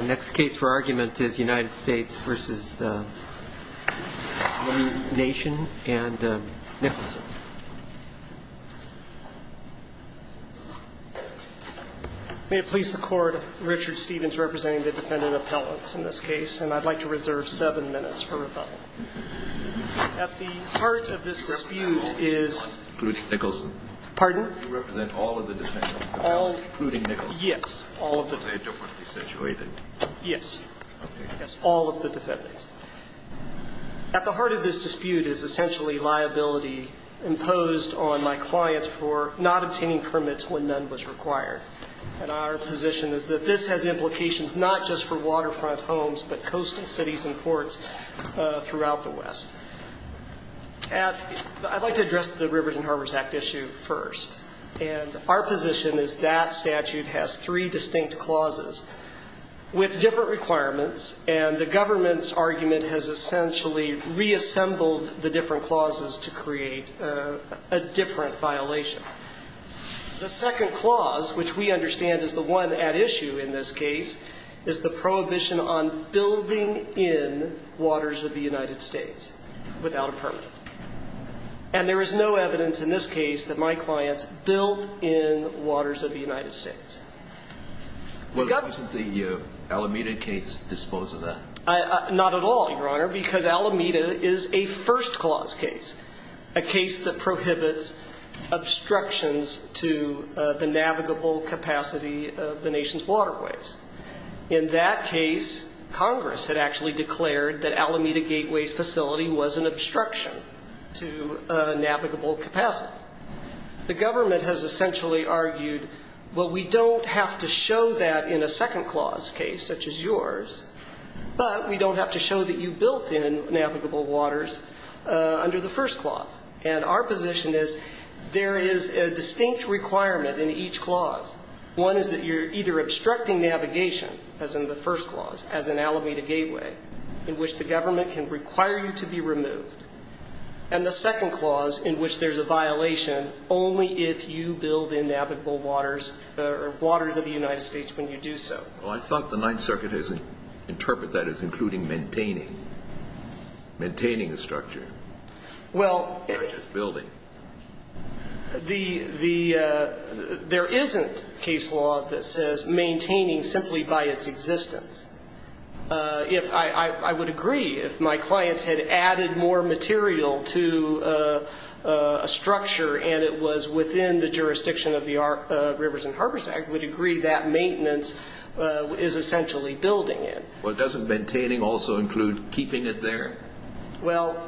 May it please the Court, Richard Stevens representing the Defendant Appellants in this case, and I'd like to reserve seven minutes for rebuttal. At the heart of this dispute is At the heart of this dispute is essentially liability imposed on my client for not obtaining permits when none was required. And our position is that this has implications not just for waterfront homes but coastal cities and ports throughout the West. I'd like to address the Rivers and Harbors Act issue first. And our position is that statute has three distinct clauses with different requirements, and the government's argument has essentially reassembled the different clauses to create a different violation. The second clause, which we understand is the one at issue in this case, is the prohibition on building in waters of the United States without a permit. And there is no evidence in this case that my clients built in waters of the United States. Well, doesn't the Alameda case dispose of that? Not at all, Your Honor, because Alameda is a first clause case, a case that prohibits obstructions to the navigable capacity of the nation's waterways. In that case, Congress had actually declared that Alameda Gateway's facility was an obstruction to navigable capacity. The government has essentially argued, well, we don't have to show that in a second clause case such as yours, but we don't have to show that you built in navigable waters under the first clause. And our position is there is a distinct requirement in each clause. One is that you're either obstructing navigation, as in the first clause, as in Alameda Gateway, in which the government can require you to be removed. And the second clause, in which there's a violation only if you build in navigable waters or waters of the United States when you do so. Well, I thought the Ninth Circuit has interpreted that as including maintaining, maintaining a structure, not just building. There isn't case law that says maintaining simply by its existence. I would agree if my clients had added more material to a structure and it was within the jurisdiction of the Rivers and Harbors Act, I would agree that maintenance is essentially building it. Well, doesn't maintaining also include keeping it there? Well,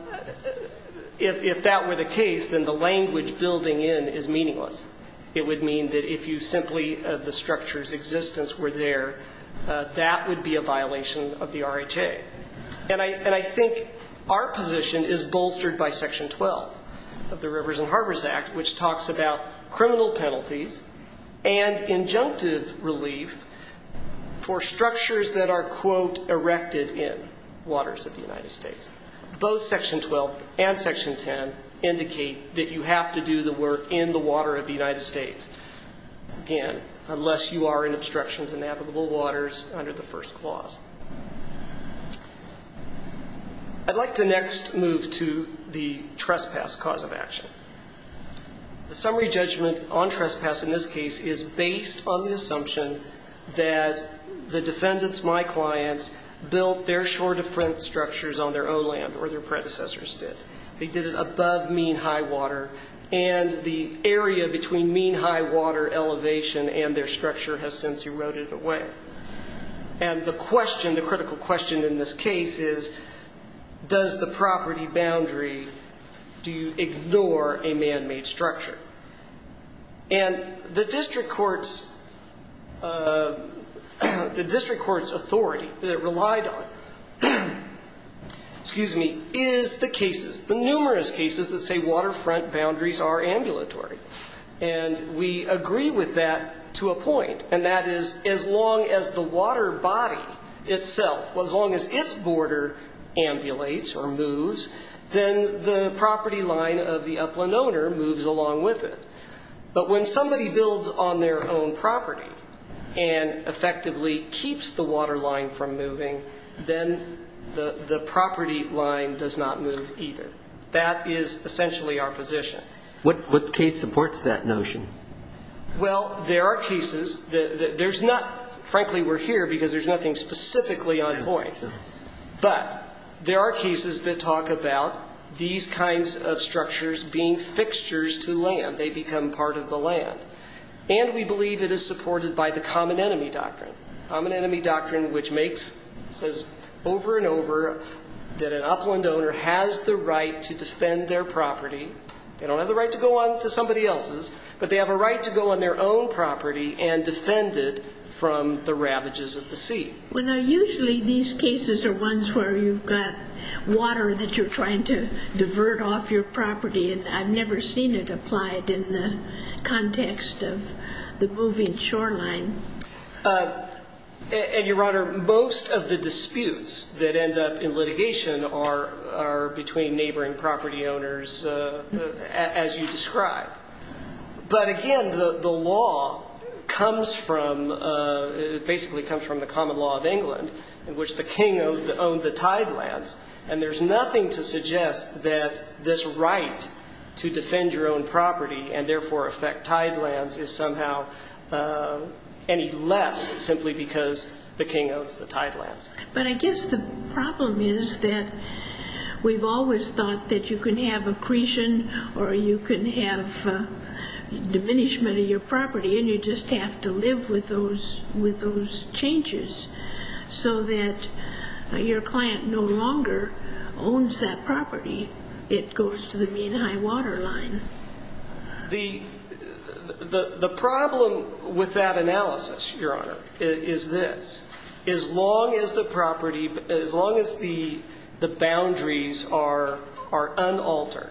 if that were the case, then the language building in is meaningless. It would mean that if you simply, the structure's existence were there, that would be a violation of the RHA. And I think our position is bolstered by Section 12 of the Rivers and Harbors Act, which talks about criminal penalties and injunctive relief for structures that are, quote, erected in waters of the United States. Both Section 12 and Section 10 indicate that you have to do the work in the water of the United States unless you are in obstruction to navigable waters under the first clause. I'd like to next move to the trespass cause of action. The summary judgment on trespass in this case is based on the assumption that the defendants, my clients, built their shore-to-front structures on their own land or their predecessors did. They did it above mean high water, and the area between mean high water elevation and their structure has since eroded away. And the question, the critical question in this case is, does the property boundary, do you ignore a man-made structure? And the district court's authority that it relied on, excuse me, is the cases, the numerous cases that say waterfront boundaries are ambulatory. And we agree with that to a point, and that is as long as the water body itself, as long as its border ambulates or moves, then the property line of the upland owner moves along with it. But when somebody builds on their own property and effectively keeps the water line from moving, then the property line does not move either. That is essentially our position. What case supports that notion? Well, there are cases that there's not, frankly, we're here because there's nothing specifically on point. But there are cases that talk about these kinds of structures being fixtures to land. They become part of the land. And we believe it is supported by the common enemy doctrine, common enemy doctrine which makes, says over and over, that an upland owner has the right to defend their property. They don't have the right to go on to somebody else's, but they have a right to go on their own property and defend it from the ravages of the sea. Well, now, usually these cases are ones where you've got water that you're trying to divert off your property. And I've never seen it applied in the context of the moving shoreline. And, Your Honor, most of the disputes that end up in litigation are between neighboring property owners as you describe. But, again, the law comes from, basically comes from the common law of England in which the king owned the tidelands. And there's nothing to suggest that this right to defend your own property and, therefore, affect tidelands is somehow any less simply because the king owns the tidelands. But I guess the problem is that we've always thought that you can have accretion or you can have diminishment of your property, and you just have to live with those changes so that your client no longer owns that property. It goes to the mean high water line. The problem with that analysis, Your Honor, is this. As long as the property, as long as the boundaries are unaltered,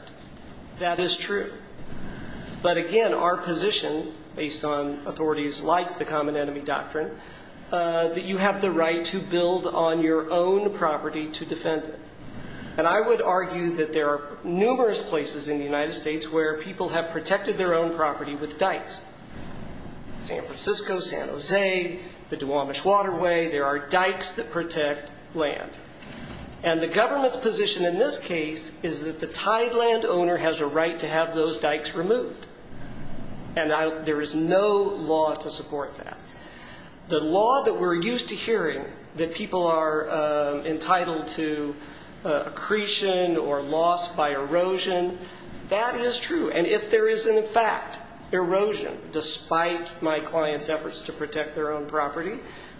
that is true. But, again, our position, based on authorities like the common enemy doctrine, that you have the right to build on your own property to defend it. And I would argue that there are numerous places in the United States where people have protected their own property with dikes. San Francisco, San Jose, the Duwamish Waterway, there are dikes that protect land. And the government's position in this case is that the tideland owner has a right to have those dikes removed. And there is no law to support that. The law that we're used to hearing, that people are entitled to accretion or loss by erosion, that is true. And if there is, in fact, erosion, despite my client's efforts to protect their own property,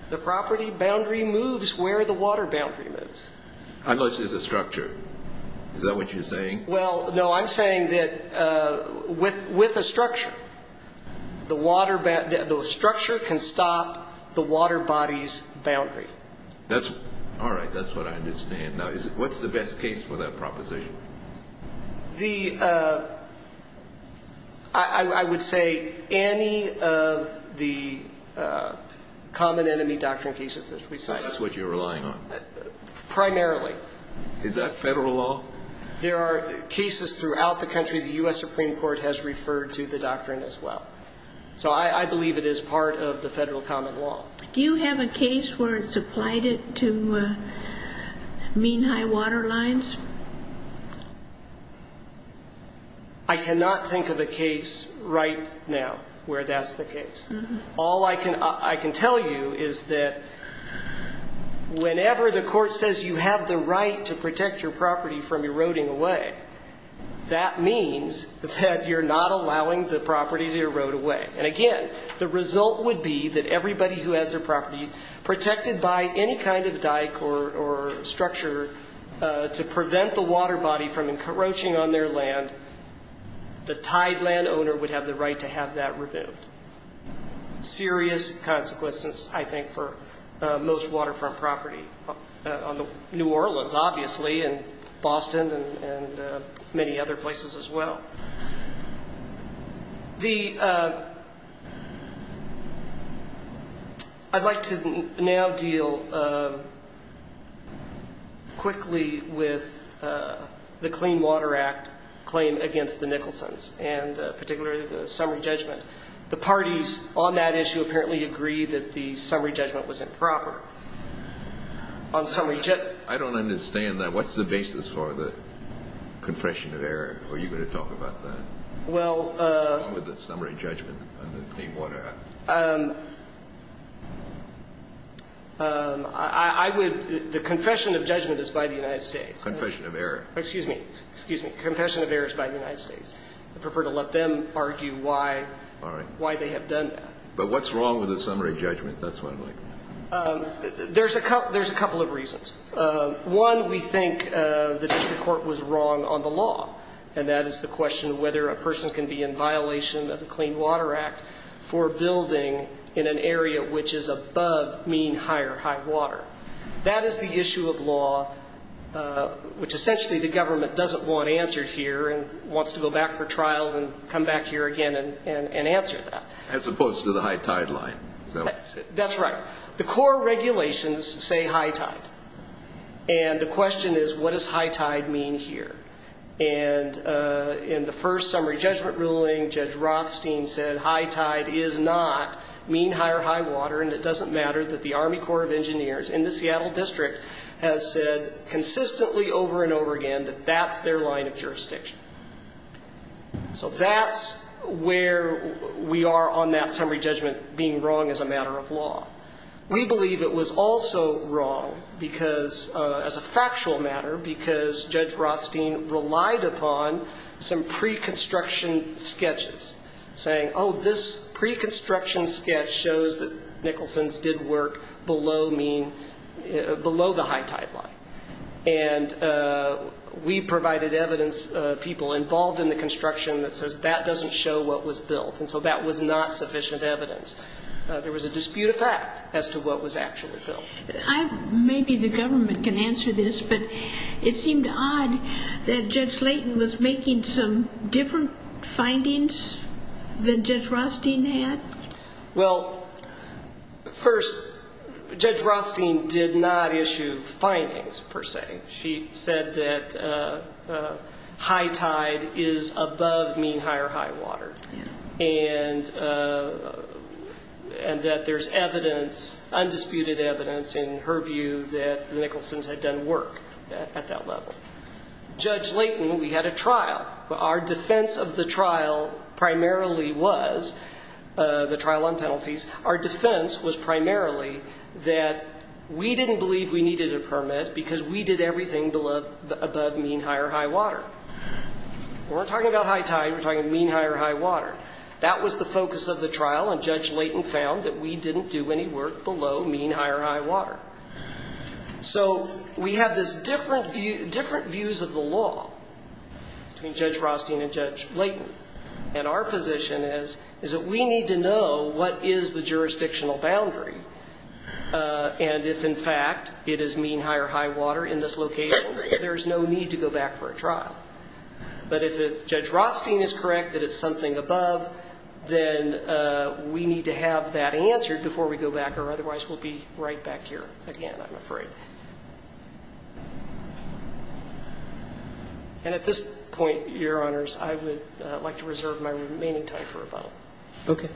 the property boundary moves where the water boundary moves. Unless there's a structure. Is that what you're saying? Well, no, I'm saying that with a structure, the structure can stop the water body's boundary. All right, that's what I understand. Now, what's the best case for that proposition? I would say any of the common enemy doctrine cases that we cite. That's what you're relying on? Primarily. Is that federal law? There are cases throughout the country the U.S. Supreme Court has referred to the doctrine as well. So I believe it is part of the federal common law. Do you have a case where it's applied to mean high water lines? I cannot think of a case right now where that's the case. All I can tell you is that whenever the court says you have the right to protect your property from eroding away, that means that you're not allowing the property to erode away. And, again, the result would be that everybody who has their property protected by any kind of dyke or structure to prevent the water body from encroaching on their land, the tied land owner would have the right to have that removed. Serious consequences, I think, for most waterfront property on New Orleans, obviously, and Boston and many other places as well. The ‑‑ I'd like to now deal quickly with the Clean Water Act claim against the Nicholsons and particularly the summary judgment. The parties on that issue apparently agree that the summary judgment was improper. On summary ‑‑ I don't understand that. What's the basis for the confession of error? Are you going to talk about that? Well ‑‑ What's wrong with the summary judgment under the Clean Water Act? I would ‑‑ the confession of judgment is by the United States. Confession of error. Excuse me. Excuse me. Confession of error is by the United States. I prefer to let them argue why ‑‑ All right. ‑‑ why they have done that. But what's wrong with the summary judgment? That's what I'm looking at. There's a couple of reasons. One, we think the district court was wrong on the law. And that is the question of whether a person can be in violation of the Clean Water Act for building in an area which is above mean high or high water. That is the issue of law, which essentially the government doesn't want answered here and wants to go back for trial and come back here again and answer that. As opposed to the high tide line. That's right. The core regulations say high tide. And the question is, what does high tide mean here? And in the first summary judgment ruling, Judge Rothstein said high tide is not mean high or high water and it doesn't matter that the Army Corps of Engineers in the Seattle District has said consistently over and over again that that's their line of jurisdiction. So that's where we are on that summary judgment being wrong as a matter of law. We believe it was also wrong because, as a factual matter, because Judge Rothstein relied upon some preconstruction sketches saying, oh, this preconstruction sketch shows that Nicholson's did work below mean, below the high tide line. And we provided evidence, people involved in the construction, that says that doesn't show what was built. And so that was not sufficient evidence. There was a dispute of fact as to what was actually built. Maybe the government can answer this, but it seemed odd that Judge Layton was making some different findings than Judge Rothstein had. Well, first, Judge Rothstein did not issue findings, per se. She said that high tide is above mean high or high water. And that there's evidence, undisputed evidence in her view, that Nicholson's had done work at that level. Judge Layton, we had a trial. Our defense of the trial primarily was, the trial on penalties, our defense was primarily that we didn't believe we needed a permit because we did everything above mean high or high water. We're not talking about high tide. We're talking mean high or high water. That was the focus of the trial, and Judge Layton found that we didn't do any work below mean high or high water. So we had this different views of the law between Judge Rothstein and Judge Layton, and our position is that we need to know what is the jurisdictional boundary, and if, in fact, it is mean high or high water in this location, there's no need to go back for a trial. But if Judge Rothstein is correct that it's something above, then we need to have that answered before we go back, or otherwise we'll be right back here again, I'm afraid. And at this point, Your Honors, I would like to reserve my remaining time for a bow. Okay.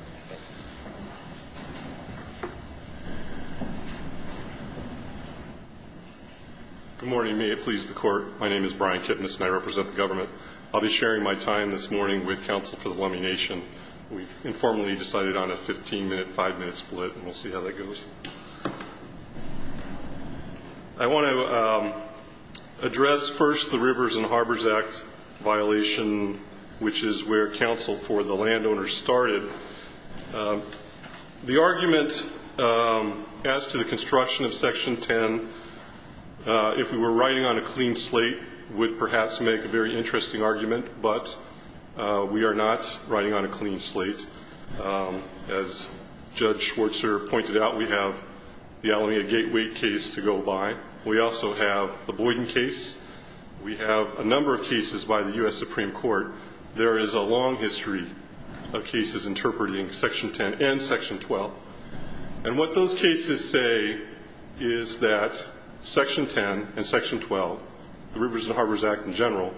Good morning. May it please the Court. I'll be sharing my time this morning with counsel for the Lummi Nation. We've informally decided on a 15-minute, 5-minute split, and we'll see how that goes. I want to address first the Rivers and Harbors Act violation, which is where counsel for the landowners started. The argument as to the construction of Section 10, if we were writing on a clean slate, would perhaps make a very interesting argument, but we are not writing on a clean slate. As Judge Schwartzer pointed out, we have the Alameda Gateway case to go by. We also have the Boyden case. We have a number of cases by the U.S. Supreme Court. There is a long history of cases interpreting Section 10 and Section 12. And what those cases say is that Section 10 and Section 12, the Rivers and Harbors Act in general,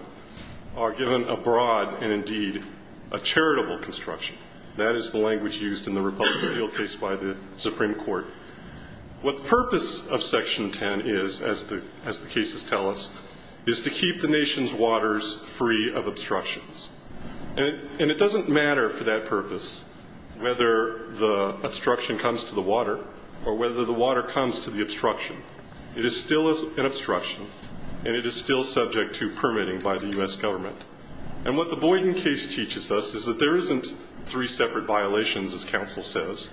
are given a broad and indeed a charitable construction. That is the language used in the Republic of Seattle case by the Supreme Court. What the purpose of Section 10 is, as the cases tell us, is to keep the nation's waters free of obstructions. And it doesn't matter for that purpose whether the obstruction comes to the water or whether the water comes to the obstruction. It is still an obstruction, and it is still subject to permitting by the U.S. government. And what the Boyden case teaches us is that there isn't three separate violations, as counsel says.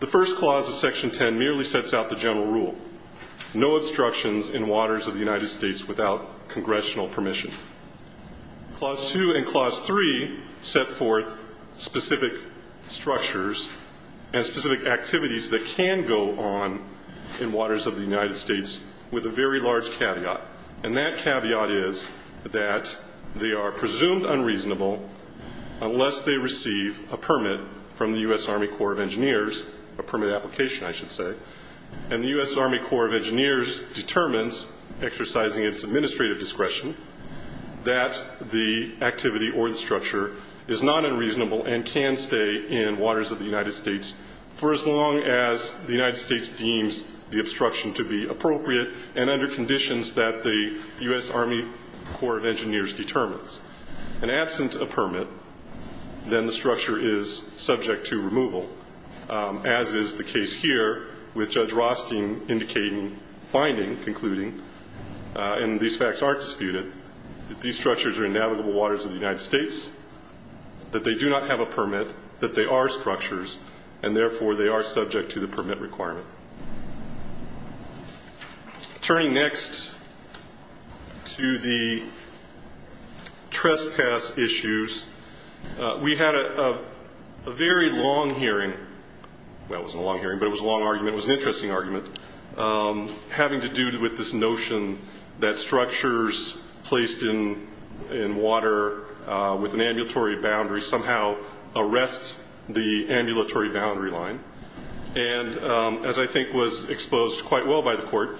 The first clause of Section 10 merely sets out the general rule, no obstructions in waters of the United States without congressional permission. Clause 2 and Clause 3 set forth specific structures and specific activities that can go on in waters of the United States with a very large caveat. And that caveat is that they are presumed unreasonable unless they receive a permit from the U.S. Army Corps of Engineers, a permit application, I should say. And the U.S. Army Corps of Engineers determines, exercising its administrative discretion, that the activity or the structure is not unreasonable and can stay in waters of the United States for as long as the United States deems the obstruction to be appropriate and under conditions that the U.S. Army Corps of Engineers determines. And absent a permit, then the structure is subject to removal, as is the case here with Judge Rothstein indicating, finding, concluding, and these facts aren't disputed, that these structures are in navigable waters of the United States, that they do not have a permit, that they are structures, and therefore they are subject to the permit requirement. Turning next to the trespass issues, we had a very long hearing. Well, it wasn't a long hearing, but it was a long argument. It was an interesting argument having to do with this notion that structures placed in water with an ambulatory boundary somehow arrest the ambulatory boundary line. And as I think was exposed quite well by the Court,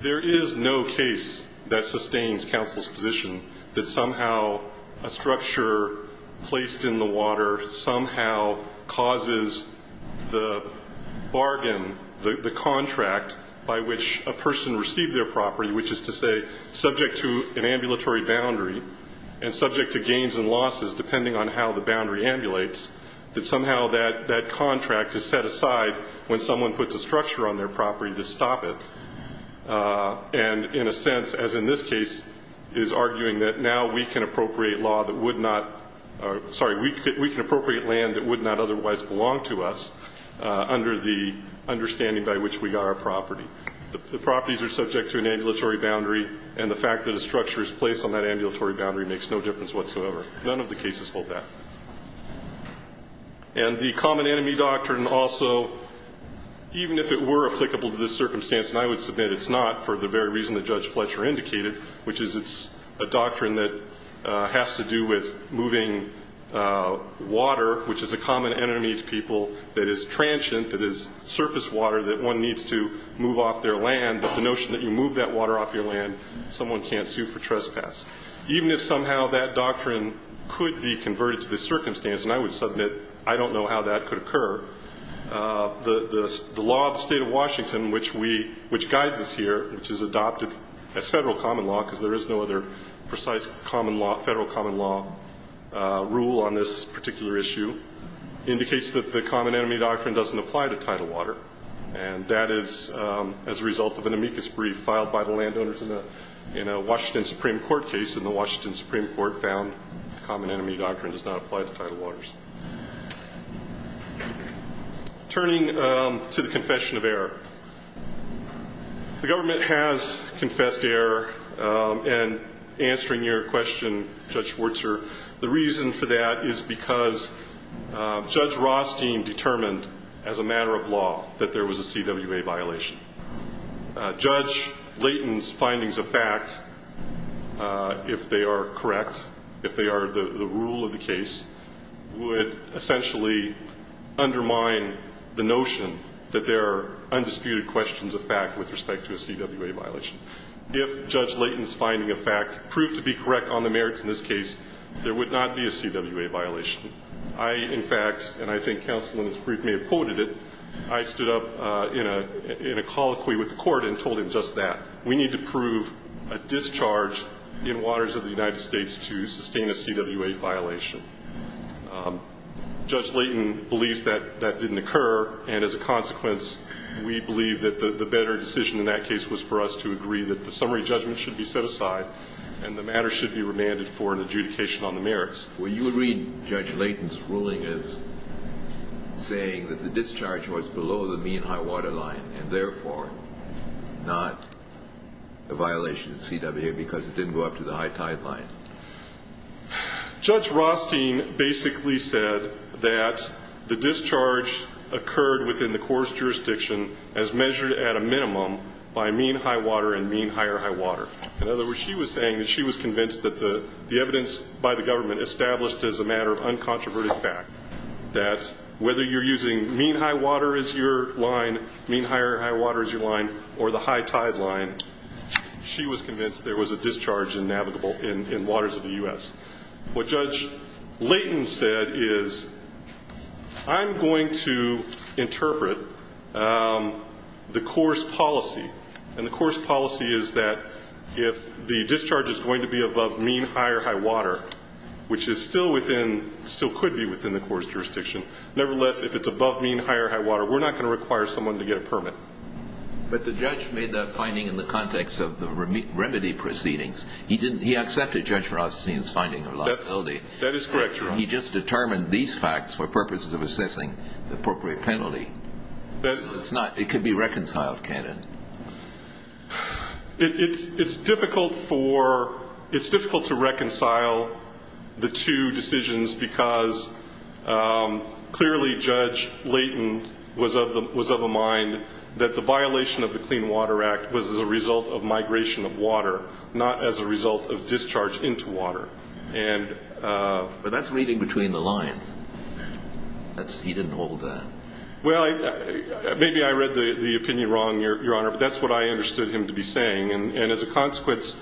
there is no case that sustains counsel's position that somehow a structure placed in the water somehow causes the bargain, the contract by which a person received their property, which is to say subject to an ambulatory boundary and subject to gains and losses, depending on how the boundary ambulates, that somehow that contract is set aside when someone puts a structure on their property to stop it. And in a sense, as in this case, is arguing that now we can appropriate law that would not, sorry, we can appropriate land that would not otherwise belong to us under the understanding by which we got our property. The properties are subject to an ambulatory boundary, and the fact that a structure is placed on that ambulatory boundary makes no difference whatsoever. None of the cases hold that. And the common enemy doctrine also, even if it were applicable to this circumstance, and I would submit it's not for the very reason that Judge Fletcher indicated, which is it's a doctrine that has to do with moving water, which is a common enemy to people that is transient, that is surface water, that one needs to move off their land. But the notion that you move that water off your land, someone can't sue for trespass. Even if somehow that doctrine could be converted to this circumstance, and I would submit I don't know how that could occur, the law of the state of Washington, which guides us here, which is adopted as federal common law because there is no other precise common law, federal common law rule on this particular issue, indicates that the common enemy doctrine doesn't apply to tidal water. And that is as a result of an amicus brief filed by the landowners in a Washington Supreme Court case, found the common enemy doctrine does not apply to tidal waters. Turning to the confession of error. The government has confessed to error in answering your question, Judge Schwartzer. The reason for that is because Judge Rothstein determined, as a matter of law, that there was a CWA violation. Judge Layton's findings of fact, if they are correct, if they are the rule of the case, would essentially undermine the notion that there are undisputed questions of fact with respect to a CWA violation. If Judge Layton's finding of fact proved to be correct on the merits in this case, there would not be a CWA violation. I, in fact, and I think counsel in this brief may have quoted it, I stood up in a colloquy with the court and told him just that. We need to prove a discharge in waters of the United States to sustain a CWA violation. Judge Layton believes that that didn't occur, and as a consequence, we believe that the better decision in that case was for us to agree that the summary judgment should be set aside and the matter should be remanded for an adjudication on the merits. Well, you would read Judge Layton's ruling as saying that the discharge was below the mean high water line and, therefore, not a violation of CWA because it didn't go up to the high tide line. Judge Rothstein basically said that the discharge occurred within the court's jurisdiction as measured at a minimum by mean high water and mean higher high water. In other words, she was saying that she was convinced that the evidence by the government established as a matter of uncontroverted fact that whether you're using mean high water as your line, mean higher high water as your line, or the high tide line, she was convinced there was a discharge in navigable in waters of the U.S. What Judge Layton said is I'm going to interpret the court's policy, and the court's policy is that if the discharge is going to be above mean higher high water, which is still within, still could be within the court's jurisdiction, nevertheless, if it's above mean higher high water, we're not going to require someone to get a permit. But the judge made that finding in the context of the remedy proceedings. He accepted Judge Rothstein's finding of liability. That is correct, Your Honor. He just determined these facts for purposes of assessing the appropriate penalty. It could be reconciled, can it? It's difficult to reconcile the two decisions because clearly Judge Layton was of a mind that the violation of the Clean Water Act was as a result of migration of water, not as a result of discharge into water. He didn't hold that. Well, maybe I read the opinion wrong, Your Honor, but that's what I understood him to be saying. And as a consequence,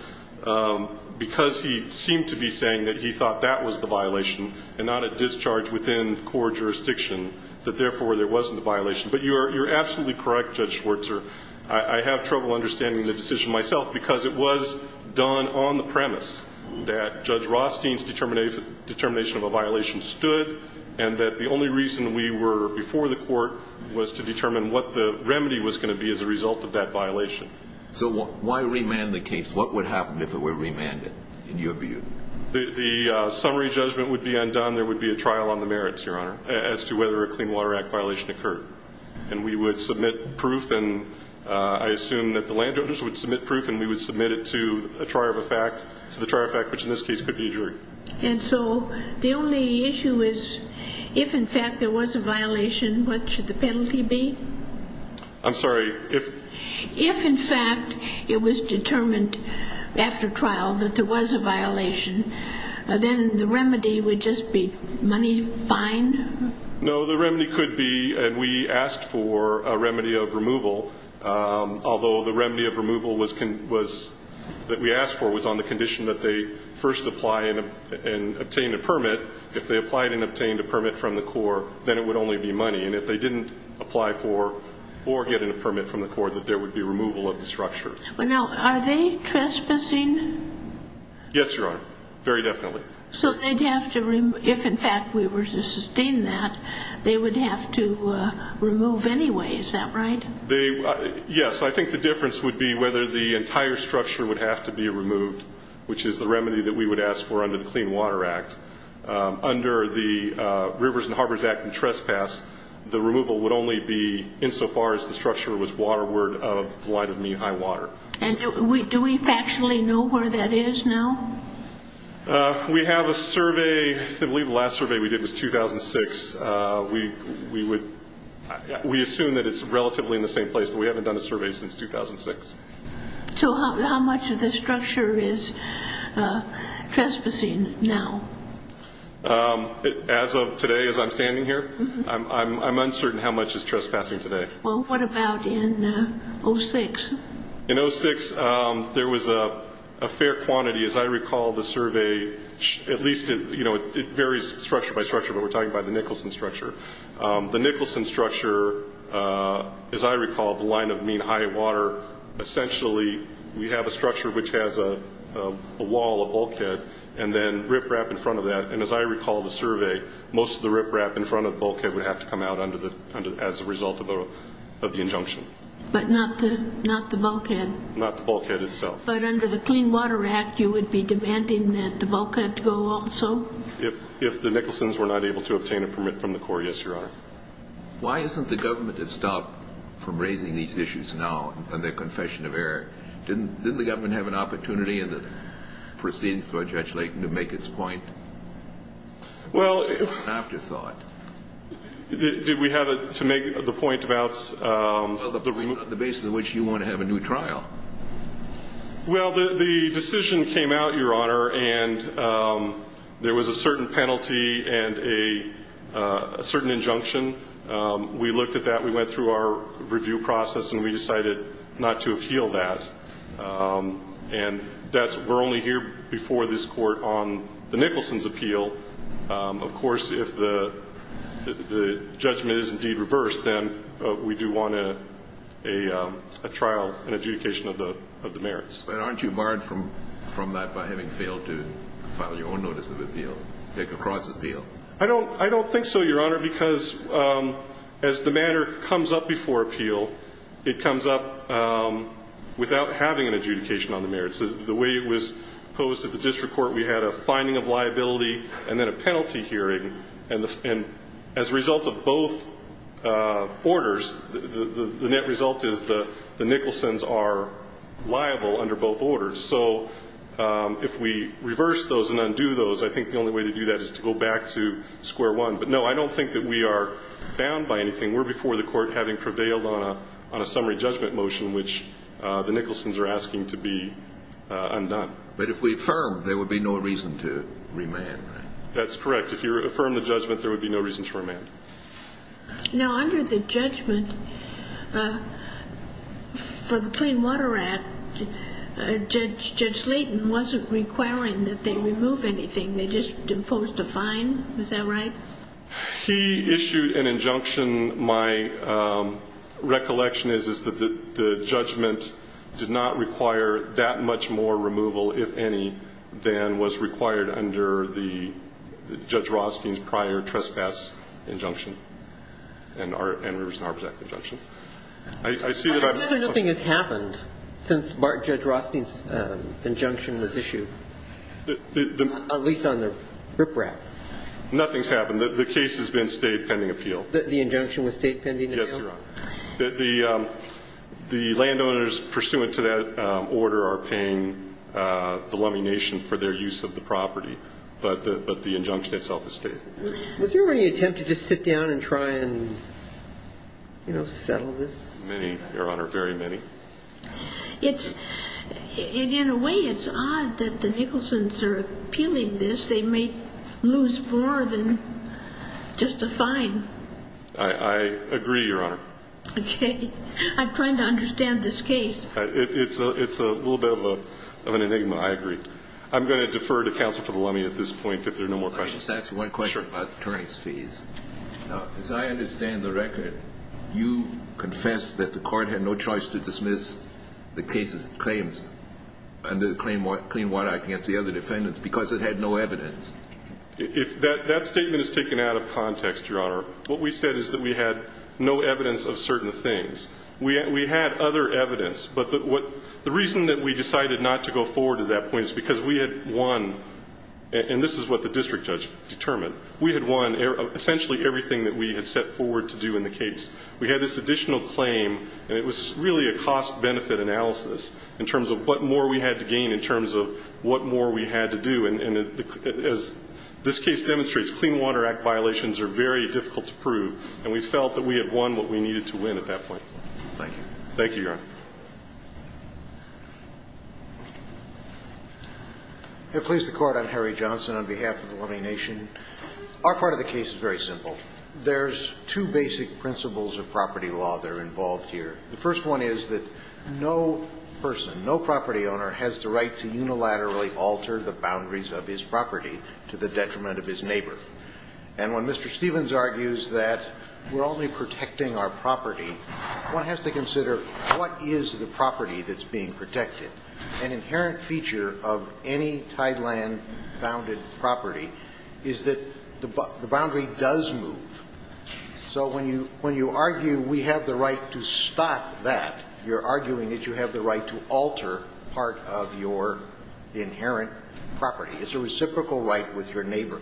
because he seemed to be saying that he thought that was the violation and not a discharge within court jurisdiction, that therefore there wasn't a violation. But you're absolutely correct, Judge Schwartzer. I have trouble understanding the decision myself because it was done on the premise that Judge Rothstein's determination of a violation stood and that the only reason we were before the court was to determine what the remedy was going to be as a result of that violation. So why remand the case? What would happen if it were remanded, in your view? The summary judgment would be undone. There would be a trial on the merits, Your Honor, as to whether a Clean Water Act violation occurred. And we would submit proof, and I assume that the landowners would submit proof, and we would submit it to a trier of a fact, to the trier of fact, which in this case could be a jury. And so the only issue is if, in fact, there was a violation, what should the penalty be? I'm sorry. If, in fact, it was determined after trial that there was a violation, then the remedy would just be money fine? No, the remedy could be, and we asked for a remedy of removal, although the remedy of removal that we asked for was on the condition that they first apply and obtain a permit. If they applied and obtained a permit from the court, then it would only be money. And if they didn't apply for or get a permit from the court, that there would be removal of the structure. Now, are they trespassing? Yes, Your Honor, very definitely. So they'd have to, if, in fact, we were to sustain that, they would have to remove anyway. Is that right? Yes. I think the difference would be whether the entire structure would have to be removed, which is the remedy that we would ask for under the Clean Water Act. Under the Rivers and Harbors Act and trespass, the removal would only be insofar as the structure was waterward of the line of mean high water. And do we factually know where that is now? We have a survey. I believe the last survey we did was 2006. We assume that it's relatively in the same place, but we haven't done a survey since 2006. So how much of the structure is trespassing now? As of today, as I'm standing here, I'm uncertain how much is trespassing today. Well, what about in 06? In 06, there was a fair quantity. As I recall, the survey, at least it varies structure by structure, but we're talking about the Nicholson structure. The Nicholson structure, as I recall, the line of mean high water, essentially we have a structure which has a wall, a bulkhead, and then riprap in front of that. And as I recall the survey, most of the riprap in front of the bulkhead would have to come out as a result of the injunction. But not the bulkhead. Not the bulkhead itself. But under the Clean Water Act, you would be demanding that the bulkhead go also? If the Nicholson's were not able to obtain a permit from the court, yes, Your Honor. Why hasn't the government stopped from raising these issues now in their confession of error? Didn't the government have an opportunity in the proceedings by Judge Layton to make its point? Well, if we have it to make the point about the basis on which you want to have a new trial. Well, the decision came out, Your Honor, and there was a certain penalty and a certain injunction. We looked at that. We went through our review process, and we decided not to appeal that. And we're only here before this Court on the Nicholson's appeal. Of course, if the judgment is indeed reversed, then we do want a trial, an adjudication of the merits. But aren't you barred from that by having failed to file your own notice of appeal, take a cross appeal? I don't think so, Your Honor, because as the matter comes up before appeal, it comes up without having an adjudication on the merits. The way it was posed at the district court, we had a finding of liability and then a penalty hearing. And as a result of both orders, the net result is the Nicholson's are liable under both orders. So if we reverse those and undo those, I think the only way to do that is to go back to square one. But, no, I don't think that we are bound by anything. We're before the Court having prevailed on a summary judgment motion, which the Nicholson's are asking to be undone. But if we affirm, there would be no reason to remand, right? That's correct. If you affirm the judgment, there would be no reason to remand. Now, under the judgment for the Clean Water Act, Judge Layton wasn't requiring that they remove anything. They just imposed a fine. Is that right? He issued an injunction. My recollection is that the judgment did not require that much more removal, if any, than was required under Judge Rothstein's prior trespass injunction and Rivers and Harbors Act injunction. I see that I'm questioning. But nothing has happened since Judge Rothstein's injunction was issued, at least on the riprap. Nothing's happened. The case has been State pending appeal. The injunction was State pending appeal? Yes, Your Honor. The landowners pursuant to that order are paying the Lummi Nation for their use of the property. But the injunction itself is State. Was there any attempt to just sit down and try and, you know, settle this? Many, Your Honor. Very many. In a way, it's odd that the Nicholson's are appealing this. They may lose more than just a fine. I agree, Your Honor. Okay. I'm trying to understand this case. It's a little bit of an enigma. I agree. I'm going to defer to counsel for the Lummi at this point if there are no more questions. Let me just ask one question about the attorney's fees. Sure. Now, as I understand the record, you confessed that the court had no choice to dismiss the case's claims under the Clean Water Act against the other defendants because it had no evidence. That statement is taken out of context, Your Honor. What we said is that we had no evidence of certain things. We had other evidence. But the reason that we decided not to go forward to that point is because we had won, and this is what the district judge determined, we had won essentially everything that we had set forward to do in the case. We had this additional claim, and it was really a cost-benefit analysis in terms of what more we had to gain in terms of what more we had to do. And as this case demonstrates, Clean Water Act violations are very difficult to prove, and we felt that we had won what we needed to win at that point. Thank you. Thank you, Your Honor. If it please the Court, I'm Harry Johnson on behalf of the Lummi Nation. Our part of the case is very simple. There's two basic principles of property law that are involved here. The first one is that no person, no property owner has the right to unilaterally alter the boundaries of his property to the detriment of his neighbor. And when Mr. Stevens argues that we're only protecting our property, one has to consider what is the property that's being protected. An inherent feature of any tideland-bounded property is that the boundary does move. So when you argue we have the right to stop that, you're arguing that you have the right to alter part of your inherent property. It's a reciprocal right with your neighbor.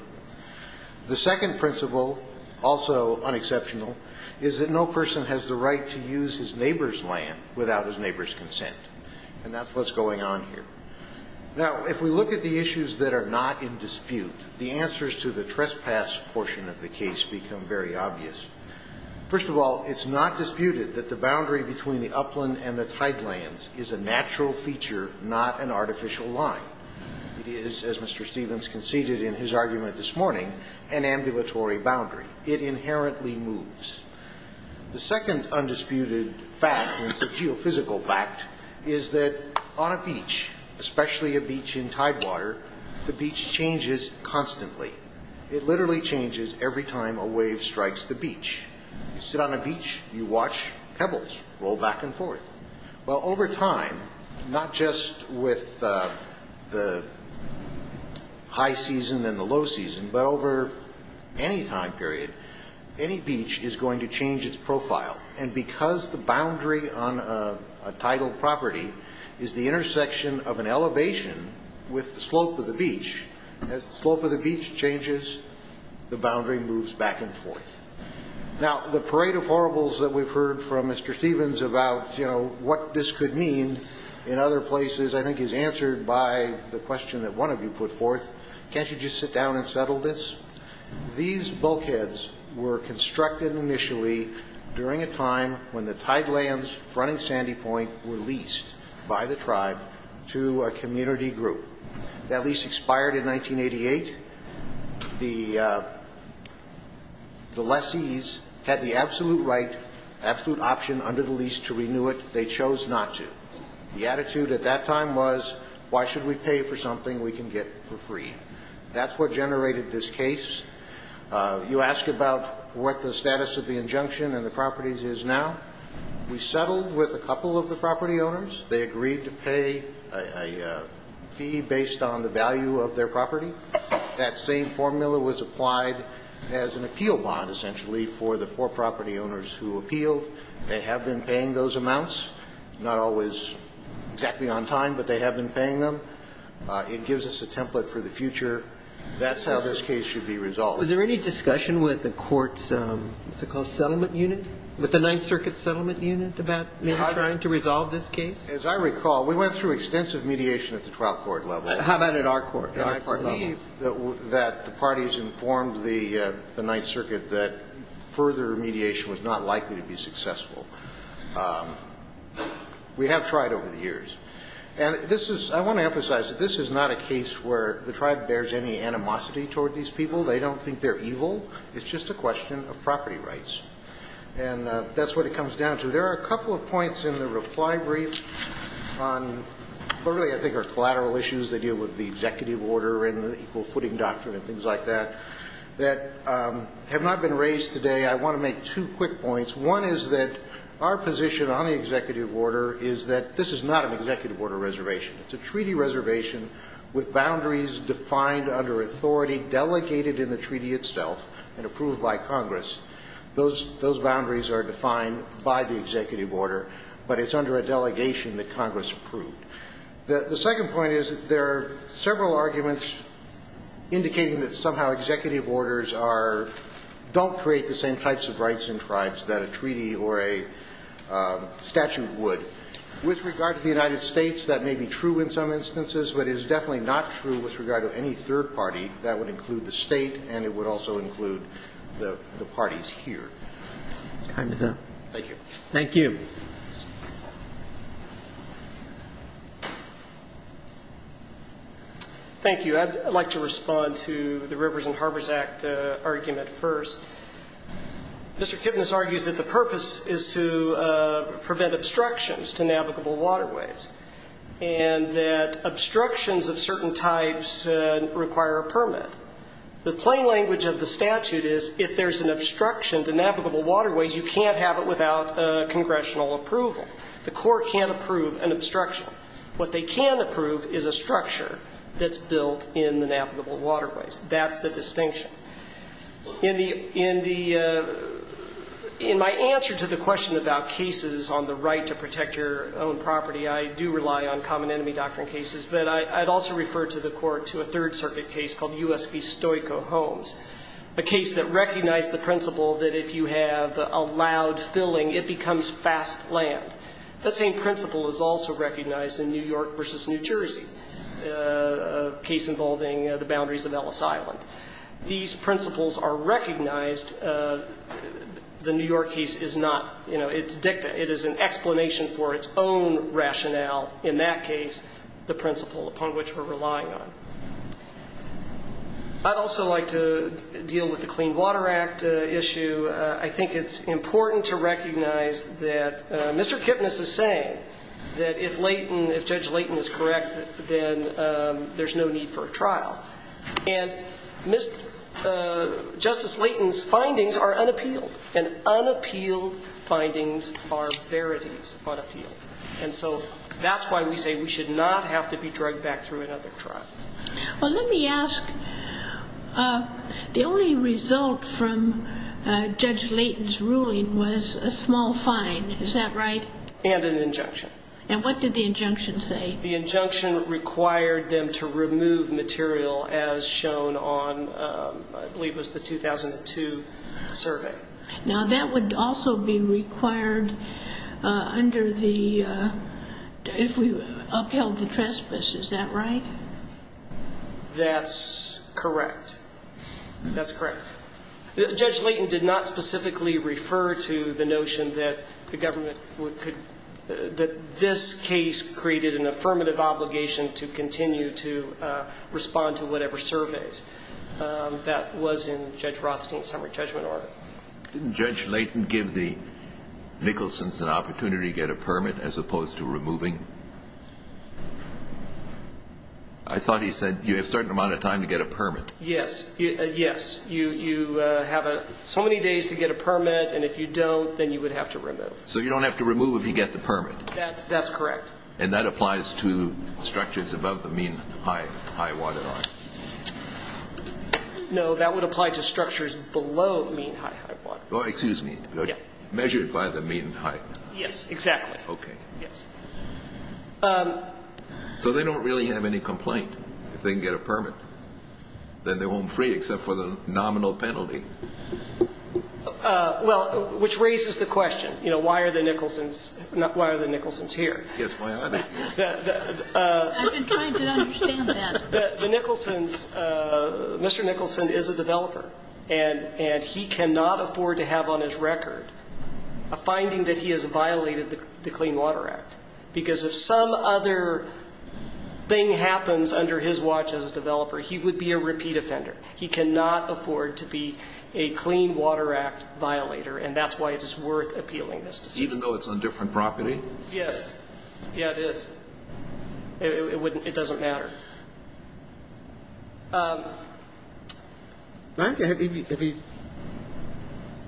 The second principle, also unexceptional, is that no person has the right to use his neighbor's land without his neighbor's consent. And that's what's going on here. Now, if we look at the issues that are not in dispute, the answers to the trespass portion of the case become very obvious. First of all, it's not disputed that the boundary between the upland and the tidelands is a natural feature, not an artificial line. It is, as Mr. Stevens conceded in his argument this morning, an ambulatory boundary. It inherently moves. The second undisputed fact, and it's a geophysical fact, is that on a beach, especially a beach in tidewater, the beach changes constantly. It literally changes every time a wave strikes the beach. You sit on a beach, you watch pebbles roll back and forth. Well, over time, not just with the high season and the low season, but over any time period, any beach is going to change its profile. And because the boundary on a tidal property is the intersection of an elevation with the slope of the beach, as the slope of the beach changes, the boundary moves back and forth. Now, the parade of horribles that we've heard from Mr. Stevens about, you know, what this could mean in other places I think is answered by the question that one of you put forth, can't you just sit down and settle this? These bulkheads were constructed initially during a time when the tide lands fronting Sandy Point were leased by the tribe to a community group. That lease expired in 1988. The lessees had the absolute right, absolute option under the lease to renew it. They chose not to. The attitude at that time was, why should we pay for something we can get for free? That's what generated this case. You ask about what the status of the injunction and the properties is now. We settled with a couple of the property owners. They agreed to pay a fee based on the value of their property. That same formula was applied as an appeal bond, essentially, for the four property owners who appealed. They have been paying those amounts. Not always exactly on time, but they have been paying them. It gives us a template for the future. That's how this case should be resolved. Was there any discussion with the court's, what's it called, settlement unit, with the Ninth Circuit settlement unit about maybe trying to resolve this case? As I recall, we went through extensive mediation at the twelfth court level. How about at our court level? And I believe that the parties informed the Ninth Circuit that further mediation was not likely to be successful. We have tried over the years. And this is, I want to emphasize that this is not a case where the tribe bears any animosity toward these people. They don't think they're evil. It's just a question of property rights. And that's what it comes down to. There are a couple of points in the reply brief on what I think are collateral issues. They deal with the executive order and the equal footing doctrine and things like that, that have not been raised today. I want to make two quick points. One is that our position on the executive order is that this is not an executive order reservation. It's a treaty reservation with boundaries defined under authority, delegated in the treaty itself, and approved by Congress. Those boundaries are defined by the executive order, but it's under a delegation that Congress approved. The second point is that there are several arguments indicating that somehow executive orders don't create the same types of rights in tribes that a treaty or a statute would. With regard to the United States, that may be true in some instances, but it is definitely not true with regard to any third party. That would include the state, and it would also include the parties here. Thank you. Thank you. Thank you. I'd like to respond to the Rivers and Harbors Act argument first. Mr. Kipnis argues that the purpose is to prevent obstructions to navigable waterways, and that obstructions of certain types require a permit. The plain language of the statute is if there's an obstruction to navigable waterways, you can't have it without congressional approval. The court can't approve an obstruction. What they can approve is a structure that's built in the navigable waterways. That's the distinction. In the ‑‑ in my answer to the question about cases on the right to protect your own property, I do rely on common enemy doctrine cases, but I'd also refer to the court to a Third Circuit case called U.S. v. Stoico Homes, a case that recognized the principle that if you have allowed filling, it becomes fast land. The same principle is also recognized in New York v. New Jersey, a case involving the boundaries of Ellis Island. These principles are recognized. The New York case is not. You know, it's dicta. It is an explanation for its own rationale in that case, the principle upon which we're relying on. I'd also like to deal with the Clean Water Act issue. I think it's important to recognize that Mr. Kipnis is saying that if Layton, if Judge Layton is correct, then there's no need for a trial. And Justice Layton's findings are unappealed. And unappealed findings are verities unappealed. And so that's why we say we should not have to be drugged back through another trial. Well, let me ask, the only result from Judge Layton's ruling was a small fine. Is that right? And an injunction. And what did the injunction say? The injunction required them to remove material as shown on, I believe it was the 2002 survey. Now, that would also be required under the, if we upheld the trespass. Is that right? That's correct. That's correct. Judge Layton did not specifically refer to the notion that the government could, that this case created an affirmative obligation to continue to respond to whatever surveys that was in Judge Rothstein's summary judgment order. Didn't Judge Layton give the Nicholson's an opportunity to get a permit as opposed to removing? I thought he said you have a certain amount of time to get a permit. Yes. Yes. You have so many days to get a permit, and if you don't, then you would have to remove. So you don't have to remove if you get the permit. That's correct. And that applies to structures above the mean high waterline? No, that would apply to structures below the mean high waterline. Oh, excuse me. Measured by the mean high. Yes, exactly. Okay. Yes. So they don't really have any complaint if they can get a permit? Then they won't free except for the nominal penalty. Well, which raises the question, you know, why are the Nicholson's here? Yes, why are they here? I've been trying to understand that. The Nicholson's, Mr. Nicholson is a developer, and he cannot afford to have on his under his watch as a developer, he would be a repeat offender. He cannot afford to be a Clean Water Act violator, and that's why it is worth appealing this decision. Even though it's on different property? Yes. Yes, it is. It doesn't matter. Have you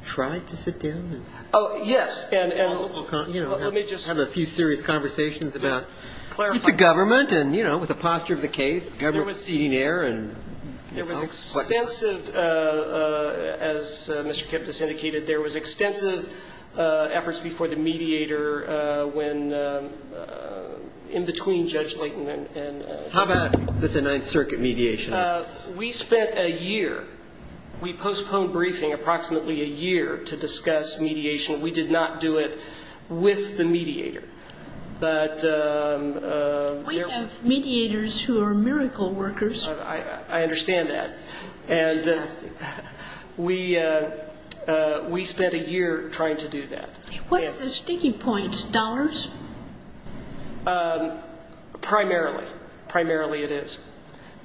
tried to sit down? Oh, yes. We'll have a few serious conversations about the government and, you know, with the posture of the case, government is feeding air. There was extensive, as Mr. Kipnis indicated, there was extensive efforts before the mediator when in between Judge Layton and. How bad was the Ninth Circuit mediation? We spent a year. We postponed briefing approximately a year to discuss mediation. We did not do it with the mediator, but. We have mediators who are miracle workers. I understand that. And we spent a year trying to do that. What are the sticking points? Dollars? Primarily. Primarily it is.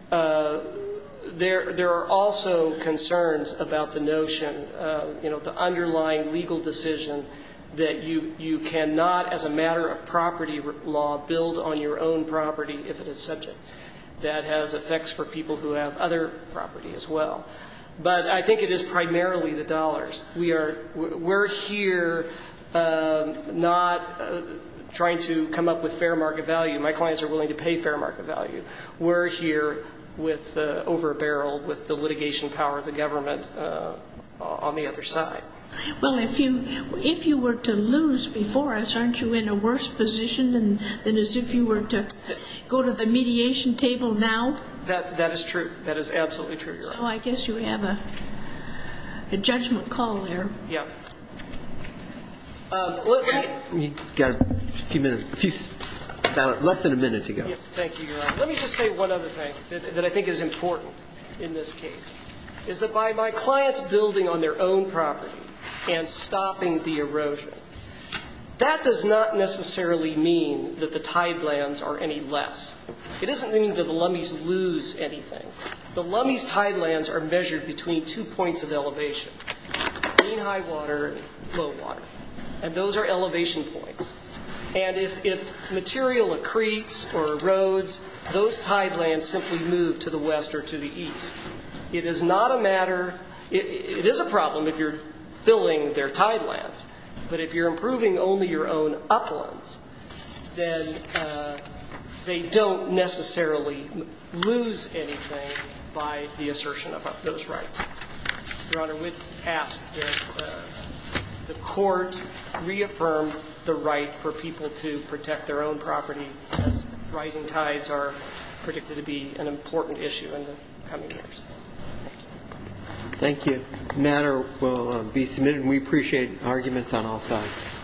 There are also concerns about the notion, you know, the underlying legal decision that you cannot as a matter of property law build on your own property if it is subject. That has effects for people who have other property as well. But I think it is primarily the dollars. We are here not trying to come up with fair market value. My clients are willing to pay fair market value. We're here over a barrel with the litigation power of the government on the other side. Well, if you were to lose before us, aren't you in a worse position than as if you were to go to the mediation table now? That is true. That is absolutely true, Your Honor. So I guess you have a judgment call there. Yeah. You've got a few minutes. Less than a minute to go. Yes, thank you, Your Honor. Let me just say one other thing that I think is important in this case, is that by my clients building on their own property and stopping the erosion, that does not necessarily mean that the tidelands are any less. It doesn't mean that the Lummies lose anything. The Lummies tidelands are measured between two points of elevation, mean high water and low water. And those are elevation points. And if material accretes or erodes, those tidelands simply move to the west or to the east. It is not a matter, it is a problem if you're filling their tidelands, but if you're improving only your own uplands, then they don't necessarily lose anything by the assertion of those rights. Your Honor, with that, the Court reaffirmed the right for people to protect their own property as rising tides are predicted to be an important issue in the coming years. Thank you. Thank you. The matter will be submitted. We appreciate arguments on all sides.